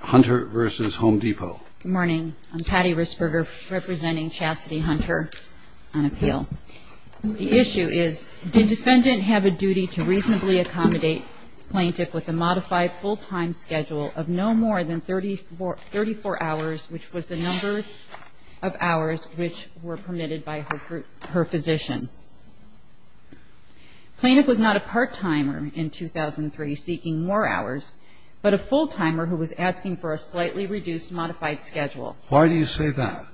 Hunter v. Home Depot. Good morning. I'm Patty Risperger representing Chastity Hunter on appeal. The issue is, did defendant have a duty to reasonably accommodate plaintiff with a modified full-time schedule of no more than 34 hours, which was the number of hours which were permitted by her physician? Plaintiff was not a part-timer in 2003 seeking more hours, but a full-timer who was asking for a slightly reduced modified schedule. Why do you say that?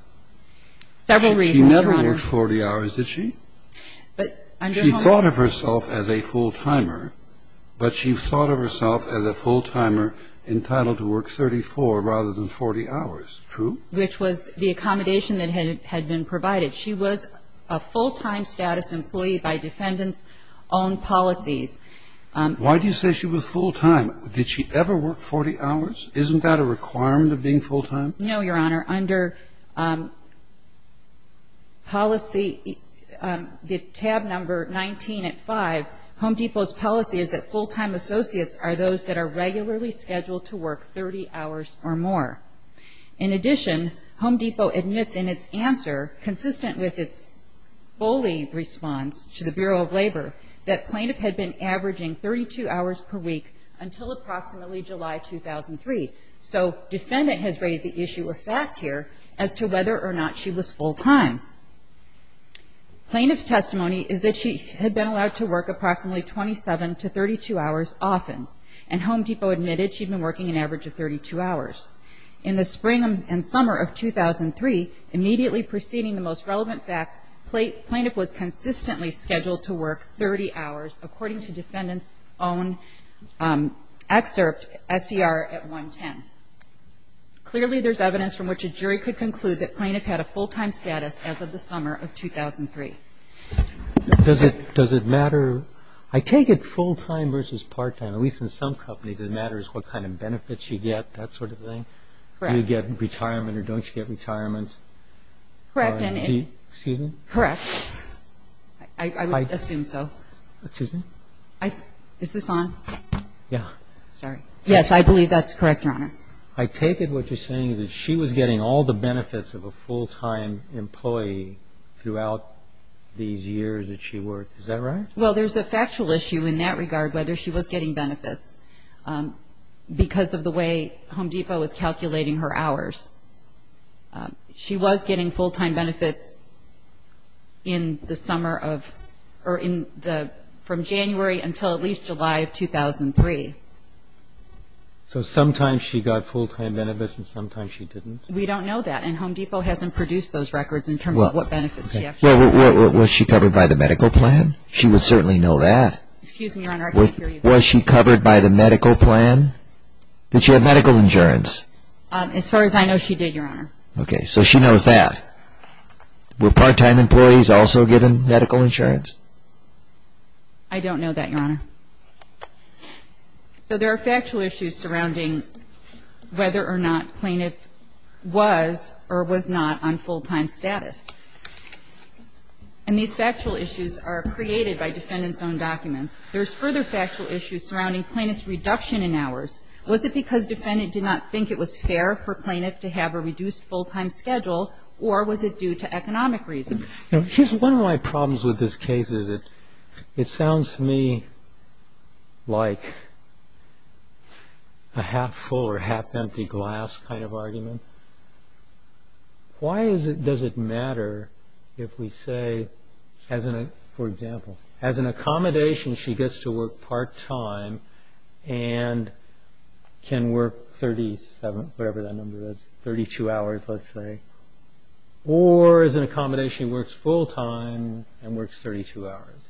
Several reasons, Your Honor. She never worked 40 hours, did she? She thought of herself as a full-timer, but she thought of herself as a full-timer entitled to work 34 rather than 40 hours. True? Which was the accommodation that had been provided. She was a full-time status employee by defendant's own policies. Why do you say she was full-time? Did she ever work 40 hours? Isn't that a requirement of being full-time? No, Your Honor. Under policy, the tab number 19 at 5, Home Depot's policy is that full-time associates are those that are regularly scheduled to work 30 hours or more. In addition, Home Depot admits in its answer, consistent with its fully response to the Bureau of Labor, that plaintiff had been averaging 32 hours per week until approximately July 2003. So defendant has raised the issue of fact here as to whether or not she was full-time. Plaintiff's testimony is that she had been allowed to work approximately 27 to 32 hours often, and Home Depot admitted she'd been working an average of 32 hours. In the spring and summer of 2003, immediately preceding the most relevant facts, plaintiff was consistently scheduled to work 30 hours, according to defendant's own excerpt, SCR at 110. Clearly, there's evidence from which a jury could conclude that plaintiff had a full-time status as of the summer of 2003. Does it matter? I take it full-time versus part-time. At least in some companies, it matters what kind of benefits you get, that sort of thing. Correct. Do you get retirement or don't you get retirement? Correct. Excuse me? Correct. I would assume so. Excuse me? Is this on? Yeah. Sorry. Yes, I believe that's correct, Your Honor. I take it what you're saying is that she was getting all the benefits of a full-time employee throughout these years that she worked. Is that right? Well, there's a factual issue in that regard, whether she was getting benefits, because of the way Home Depot was calculating her hours. She was getting full-time benefits in the summer of or from January until at least July of 2003. So sometimes she got full-time benefits and sometimes she didn't? We don't know that, and Home Depot hasn't produced those records in terms of what benefits she actually got. Was she covered by the medical plan? She would certainly know that. Excuse me, Your Honor, I can't hear you. Was she covered by the medical plan? Did she have medical insurance? As far as I know, she did, Your Honor. Okay. So she knows that. Were part-time employees also given medical insurance? I don't know that, Your Honor. So there are factual issues surrounding whether or not plaintiff was or was not on full-time status. And these factual issues are created by defendant's own documents. There's further factual issues surrounding plaintiff's reduction in hours. Was it because defendant did not think it was fair for plaintiff to have a reduced full-time schedule, or was it due to economic reasons? You know, here's one of my problems with this case. It sounds to me like a half-full or half-empty glass kind of argument. Why does it matter if we say, for example, as an accommodation she gets to work part-time and can work 37, whatever that number is, 32 hours, let's say. Or as an accommodation, she works full-time and works 32 hours.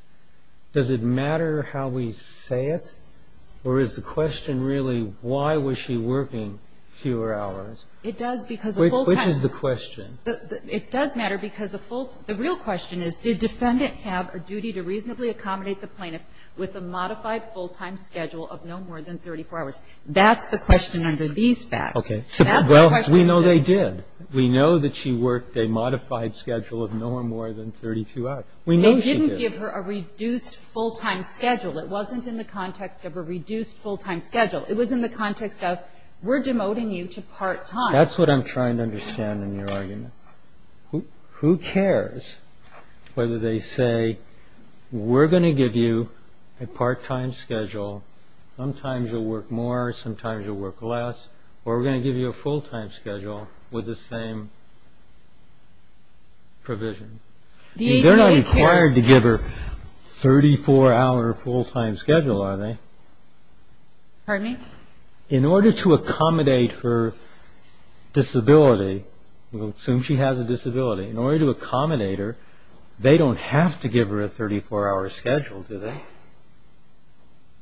Does it matter how we say it, or is the question really, why was she working fewer hours? It does because of full-time. Which is the question? It does matter because the real question is, did defendant have a duty to reasonably accommodate the plaintiff with a modified full-time schedule of no more than 34 hours? That's the question under these facts. Okay. So that's the question. We know they did. We know that she worked a modified schedule of no more than 32 hours. We know she did. They didn't give her a reduced full-time schedule. It wasn't in the context of a reduced full-time schedule. It was in the context of, we're demoting you to part-time. That's what I'm trying to understand in your argument. Who cares whether they say, we're going to give you a part-time schedule, sometimes you'll work more, sometimes you'll work less, or we're going to give you a full-time schedule with the same provision. They're not required to give her a 34-hour full-time schedule, are they? Pardon me? In order to accommodate her disability, assume she has a disability, in order to accommodate her, they don't have to give her a 34-hour schedule, do they?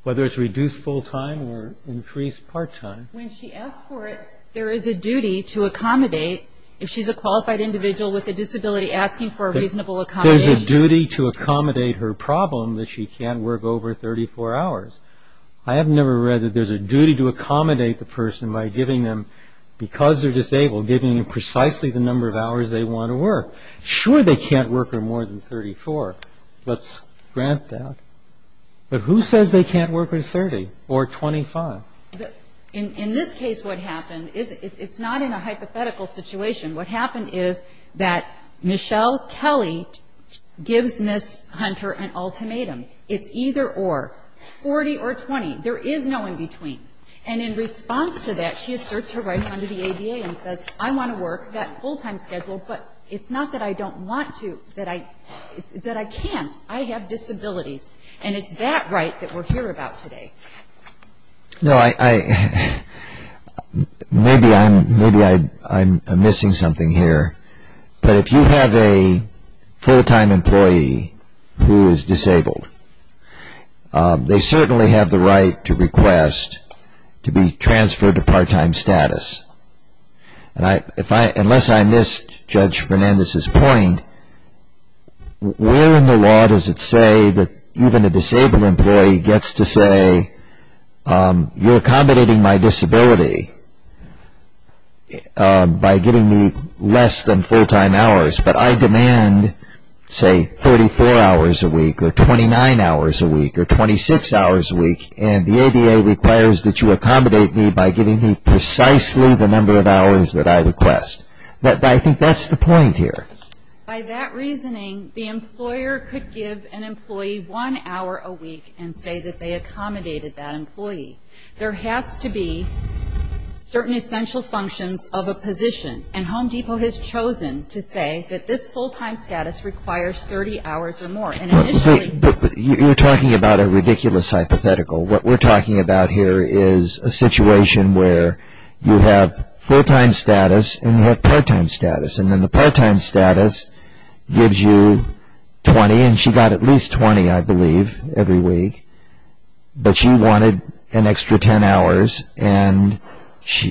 Whether it's reduced full-time or increased part-time. When she asks for it, there is a duty to accommodate, if she's a qualified individual with a disability, asking for a reasonable accommodation. There's a duty to accommodate her problem that she can't work over 34 hours. I have never read that there's a duty to accommodate the person by giving them, because they're disabled, giving them precisely the number of hours they want to work. Sure, they can't work for more than 34. Let's grant that. But who says they can't work with 30 or 25? In this case, what happened is it's not in a hypothetical situation. What happened is that Michelle Kelly gives Ms. Hunter an ultimatum. It's either or, 40 or 20. There is no in-between. And in response to that, she asserts her right under the ADA and says, I want to work that full-time schedule, but it's not that I don't want to, that I can't. I have disabilities. And it's that right that we're here about today. No, maybe I'm missing something here. But if you have a full-time employee who is disabled, they certainly have the right to request to be transferred to part-time status. Unless I missed Judge Fernandez's point, where in the law does it say that even a disabled employee gets to say, you're accommodating my disability by giving me less than full-time hours. But I demand, say, 34 hours a week or 29 hours a week or 26 hours a week, and the ADA requires that you accommodate me by giving me precisely the number of hours that I request. I think that's the point here. By that reasoning, the employer could give an employee one hour a week and say that they accommodated that employee. There has to be certain essential functions of a position, and Home Depot has chosen to say that this full-time status requires 30 hours or more. You're talking about a ridiculous hypothetical. What we're talking about here is a situation where you have full-time status and you have part-time status, and then the part-time status gives you 20, and she got at least 20, I believe, every week. But she wanted an extra 10 hours, and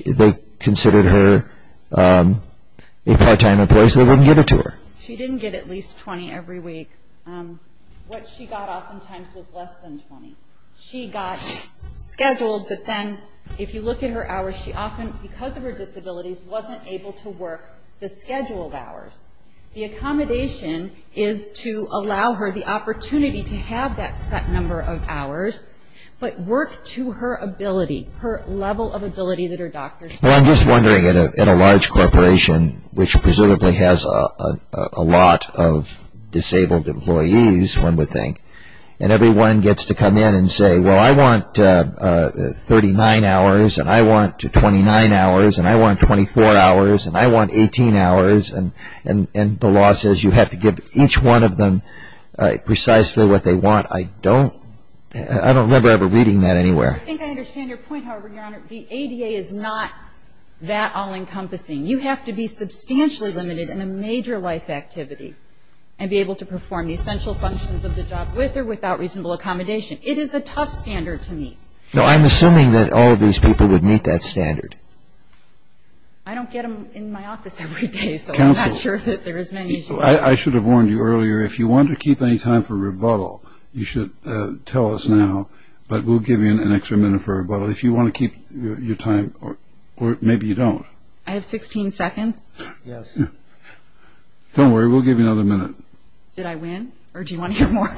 they considered her a part-time employee, so they wouldn't give it to her. She didn't get at least 20 every week. What she got oftentimes was less than 20. She got scheduled, but then if you look at her hours, she often, because of her disabilities, wasn't able to work the scheduled hours. The accommodation is to allow her the opportunity to have that set number of hours, but work to her ability, her level of ability that her doctor says. Well, I'm just wondering, in a large corporation, which presumably has a lot of disabled employees, one would think, and everyone gets to come in and say, well, I want 39 hours, and I want 29 hours, and I want 24 hours, and I want 18 hours, and the law says you have to give each one of them precisely what they want. I don't remember ever reading that anywhere. I think I understand your point, however, Your Honor. The ADA is not that all-encompassing. You have to be substantially limited in a major life activity and be able to perform the essential functions of the job with or without reasonable accommodation. It is a tough standard to meet. No, I'm assuming that all of these people would meet that standard. I don't get them in my office every day, so I'm not sure that there is many who do. Counsel, I should have warned you earlier, if you want to keep any time for rebuttal, you should tell us now, but we'll give you an extra minute for rebuttal. If you want to keep your time, or maybe you don't. I have 16 seconds. Yes. Don't worry, we'll give you another minute. Did I win, or do you want to hear more?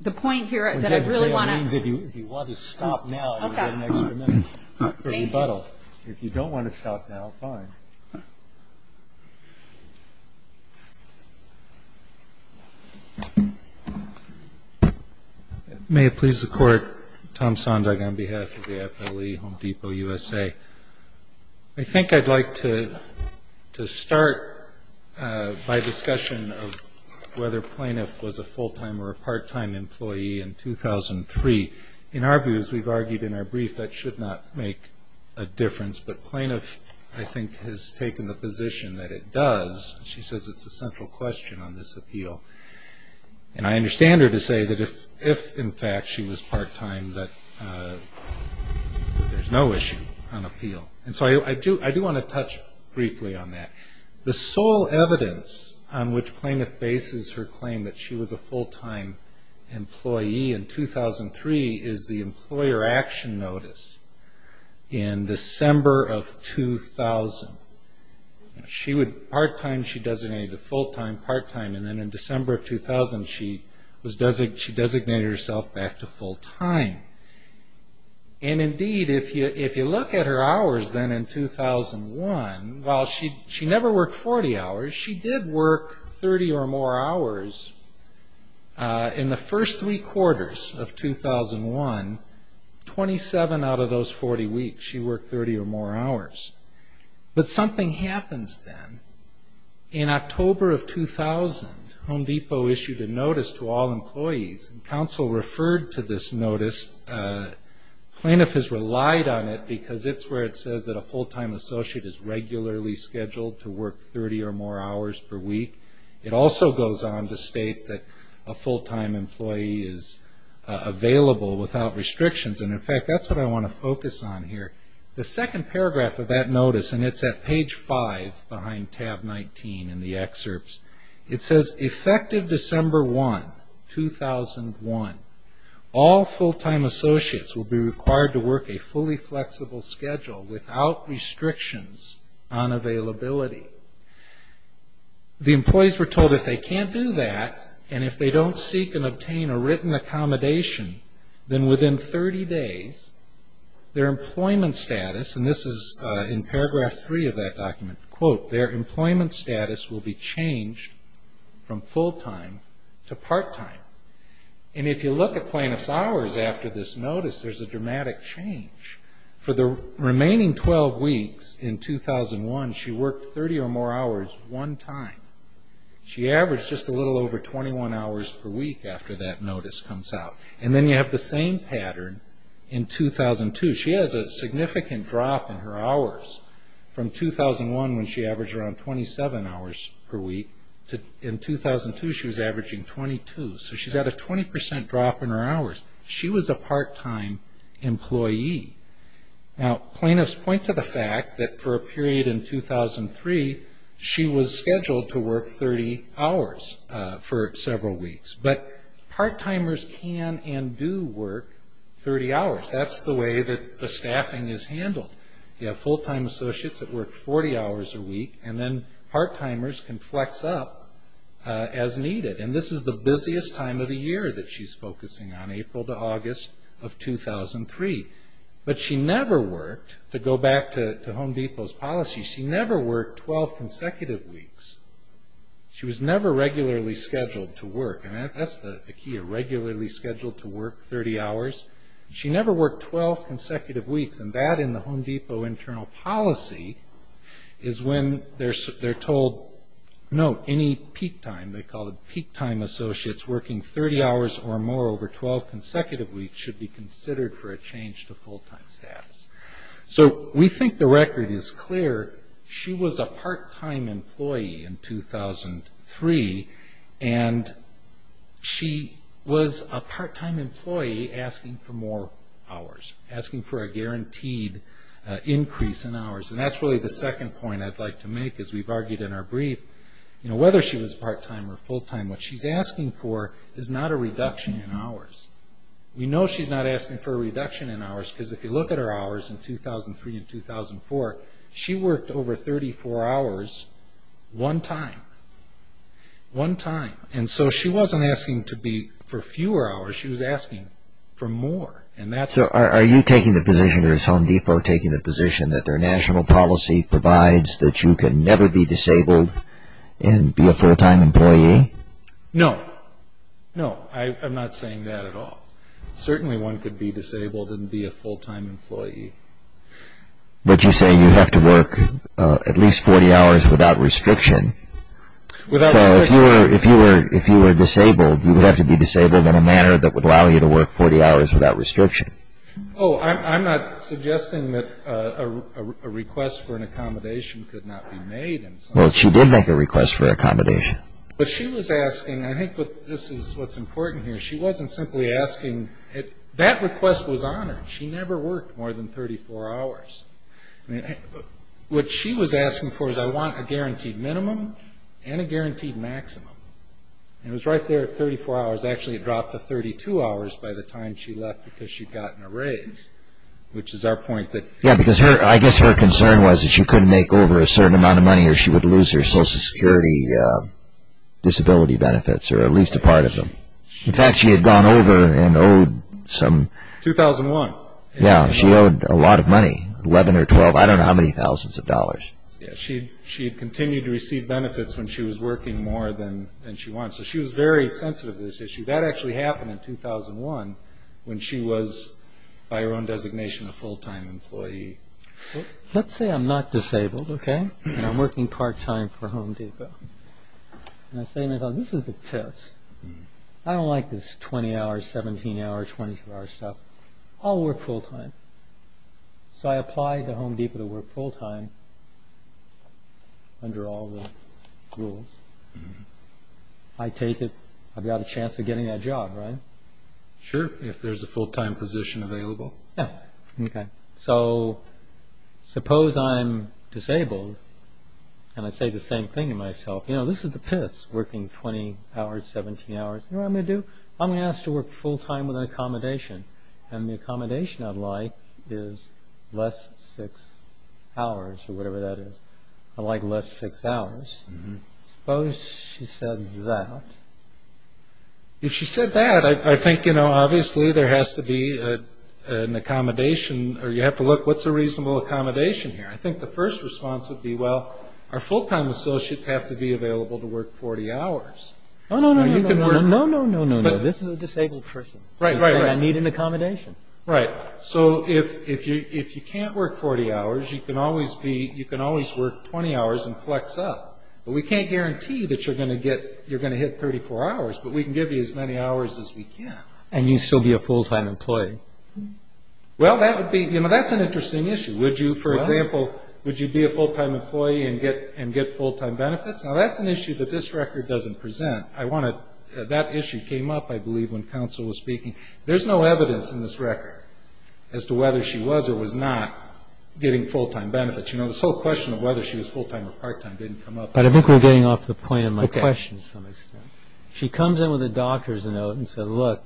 The point here is that I really want to. That means if you want to stop now, you'll get an extra minute for rebuttal. If you don't want to stop now, fine. May it please the Court, Tom Sondra on behalf of the FLE, Home Depot USA. I think I'd like to start by discussion of whether Plaintiff was a full-time or a part-time employee in 2003. In our views, we've argued in our brief that should not make a difference, but Plaintiff, I think, has taken the position that it does. She says it's a central question on this appeal. And I understand her to say that if, in fact, she was part-time, that there's no issue on appeal. And so I do want to touch briefly on that. The sole evidence on which Plaintiff bases her claim that she was a full-time employee in 2003 is the Employer Action Notice in December of 2000. Part-time she designated to full-time, part-time, and then in December of 2000 she designated herself back to full-time. And indeed, if you look at her hours then in 2001, while she never worked 40 hours, she did work 30 or more hours in the first three quarters of 2001, 27 out of those 40 weeks she worked 30 or more hours. But something happens then. In October of 2000, Home Depot issued a notice to all employees. And counsel referred to this notice. Plaintiff has relied on it because it's where it says that a full-time associate is regularly scheduled to work 30 or more hours per week. It also goes on to state that a full-time employee is available without restrictions. And, in fact, that's what I want to focus on here. The second paragraph of that notice, and it's at page 5 behind tab 19 in the excerpts, it says, effective December 1, 2001, all full-time associates will be required to work a fully flexible schedule without restrictions on availability. The employees were told if they can't do that, and if they don't seek and obtain a written accommodation, then within 30 days their employment status, and this is in paragraph 3 of that document, quote, their employment status will be changed from full-time to part-time. And if you look at plaintiff's hours after this notice, there's a dramatic change. For the remaining 12 weeks in 2001, she worked 30 or more hours one time. She averaged just a little over 21 hours per week after that notice comes out. And then you have the same pattern in 2002. She has a significant drop in her hours from 2001, when she averaged around 27 hours per week, to in 2002 she was averaging 22. So she's had a 20 percent drop in her hours. She was a part-time employee. Now, plaintiffs point to the fact that for a period in 2003, she was scheduled to work 30 hours for several weeks. But part-timers can and do work 30 hours. That's the way that the staffing is handled. You have full-time associates that work 40 hours a week, and then part-timers can flex up as needed. And this is the busiest time of the year that she's focusing on, April to August of 2003. But she never worked, to go back to Home Depot's policy, she never worked 12 consecutive weeks. She was never regularly scheduled to work. And that's the key, a regularly scheduled to work 30 hours. She never worked 12 consecutive weeks, and that in the Home Depot internal policy is when they're told, no, any peak time, they call it peak time associates working 30 hours or more over 12 consecutive weeks should be considered for a change to full-time status. So we think the record is clear. She was a part-time employee in 2003, and she was a part-time employee asking for more hours, asking for a guaranteed increase in hours. And that's really the second point I'd like to make, as we've argued in our brief. Whether she was part-time or full-time, what she's asking for is not a reduction in hours. We know she's not asking for a reduction in hours, because if you look at her hours in 2003 and 2004, she worked over 34 hours one time. One time. And so she wasn't asking for fewer hours, she was asking for more. So are you taking the position, or is Home Depot taking the position, that their national policy provides that you can never be disabled and be a full-time employee? No. No, I'm not saying that at all. Certainly one could be disabled and be a full-time employee. But you say you have to work at least 40 hours without restriction. So if you were disabled, you would have to be disabled in a manner that would allow you to work 40 hours without restriction. Oh, I'm not suggesting that a request for an accommodation could not be made. Well, she did make a request for accommodation. But she was asking, I think this is what's important here, she wasn't simply asking, that request was on her. She never worked more than 34 hours. What she was asking for was, I want a guaranteed minimum and a guaranteed maximum. And it was right there at 34 hours. Actually, it dropped to 32 hours by the time she left because she'd gotten a raise, which is our point that... Yeah, because I guess her concern was that she couldn't make over a certain amount of money or she would lose her Social Security disability benefits, or at least a part of them. In fact, she had gone over and owed some... 2001. Yeah, she owed a lot of money, 11 or 12, I don't know how many thousands of dollars. Yeah, she had continued to receive benefits when she was working more than she wanted. So she was very sensitive to this issue. That actually happened in 2001 when she was, by her own designation, a full-time employee. Let's say I'm not disabled, okay, and I'm working part-time for Home Depot. And I say to myself, this is the test. I don't like this 20-hour, 17-hour, 24-hour stuff. I'll work full-time. So I apply to Home Depot to work full-time under all the rules. I take it I've got a chance of getting that job, right? Sure, if there's a full-time position available. Yeah, okay. So suppose I'm disabled, and I say the same thing to myself. You know, this is the test, working 20 hours, 17 hours. You know what I'm going to do? I'm going to ask to work full-time with an accommodation. And the accommodation I'd like is less six hours, or whatever that is. I'd like less six hours. Suppose she said that. If she said that, I think, you know, obviously there has to be an accommodation, or you have to look, what's a reasonable accommodation here? I think the first response would be, well, our full-time associates have to be available to work 40 hours. Oh, no, no, no, no, no, no, no, no, no, no. This is a disabled person. Right, right, right. I need an accommodation. Right. So if you can't work 40 hours, you can always work 20 hours and flex up. But we can't guarantee that you're going to hit 34 hours, but we can give you as many hours as we can. And you'd still be a full-time employee. Well, that's an interesting issue. For example, would you be a full-time employee and get full-time benefits? Now, that's an issue that this record doesn't present. That issue came up, I believe, when counsel was speaking. There's no evidence in this record as to whether she was or was not getting full-time benefits. The whole question of whether she was full-time or part-time didn't come up. I think we're getting off the point of my question to some extent. She comes in with a doctor's note and says, look,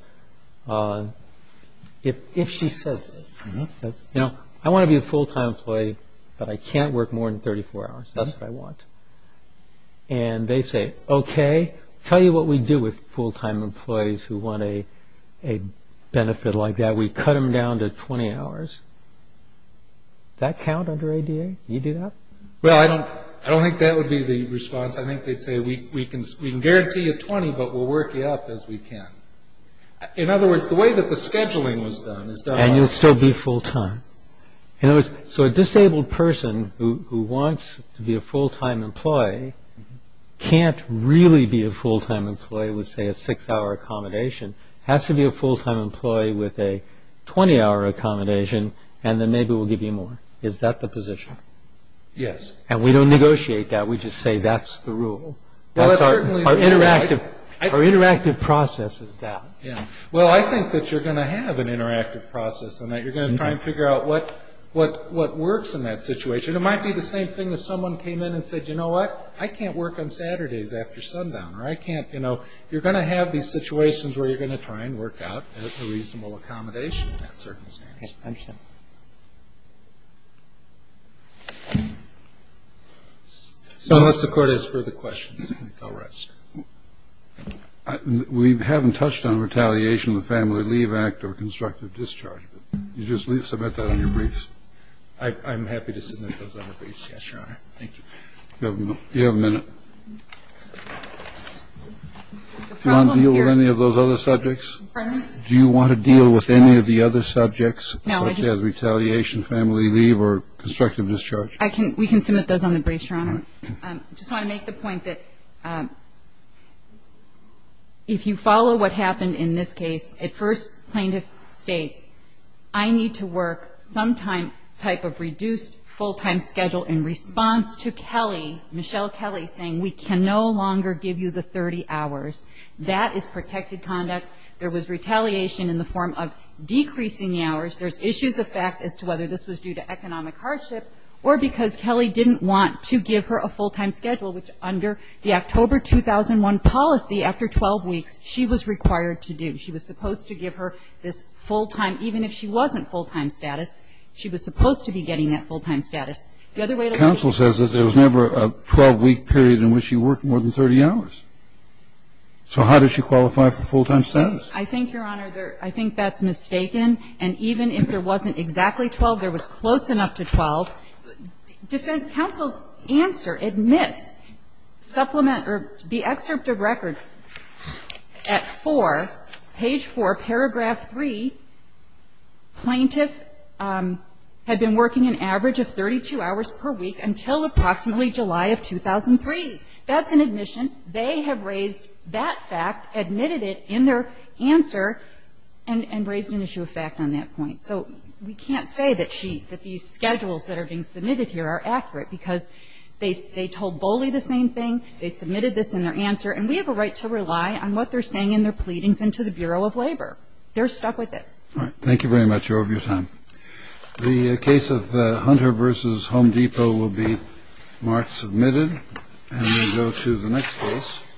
if she says this, you know, I want to be a full-time employee, but I can't work more than 34 hours. That's what I want. And they say, okay, tell you what we do with full-time employees who want a benefit like that. We cut them down to 20 hours. Does that count under ADA? Do you do that? Well, I don't think that would be the response. I think they'd say we can guarantee you 20, but we'll work you up as we can. In other words, the way that the scheduling was done is done... And you'll still be full-time. So a disabled person who wants to be a full-time employee can't really be a full-time employee with, say, a six-hour accommodation. Has to be a full-time employee with a 20-hour accommodation, and then maybe we'll give you more. Is that the position? Yes. And we don't negotiate that. We just say that's the rule. Our interactive process is that. Well, I think that you're going to have an interactive process and that you're going to try and figure out what works in that situation. It might be the same thing if someone came in and said, you know what, I can't work on Saturdays after sundown. Or I can't, you know, you're going to have these situations where you're going to try and work out a reasonable accommodation in that circumstance. Okay. I understand. So unless the Court has further questions, I'll rest. We haven't touched on retaliation of the Family Leave Act or constructive discharge. You just submit that on your briefs? I'm happy to submit those on the briefs, yes, Your Honor. Thank you. You have a minute. Do you want to deal with any of those other subjects? Do you want to deal with any of the other subjects, such as retaliation, family leave, or constructive discharge? We can submit those on the briefs, Your Honor. I just want to make the point that if you follow what happened in this case, at first plaintiff states, I need to work some type of reduced full-time schedule in response to Kelly, Michelle Kelly, saying we can no longer give you the 30 hours. That is protected conduct. There was retaliation in the form of decreasing the hours. There's issues of fact as to whether this was due to economic hardship or because Kelly didn't want to give her a full-time schedule, which under the October 2001 policy, after 12 weeks, she was required to do. She was supposed to give her this full-time, even if she wasn't full-time status, she was supposed to be getting that full-time status. The other way to look at it is that there was never a 12-week period in which she worked more than 30 hours. So how does she qualify for full-time status? I think, Your Honor, I think that's mistaken. And even if there wasn't exactly 12, there was close enough to 12. So defense counsel's answer admits supplement or the excerpt of record at 4, page 4, paragraph 3, plaintiff had been working an average of 32 hours per week until approximately July of 2003. That's an admission. They have raised that fact, admitted it in their answer, and raised an issue of fact on that point. So we can't say that these schedules that are being submitted here are accurate because they told Boley the same thing, they submitted this in their answer, and we have a right to rely on what they're saying in their pleadings and to the Bureau of Labor. They're stuck with it. All right. Thank you very much. You're over your time. The case of Hunter v. Home Depot will be marked submitted. And we go to the next case.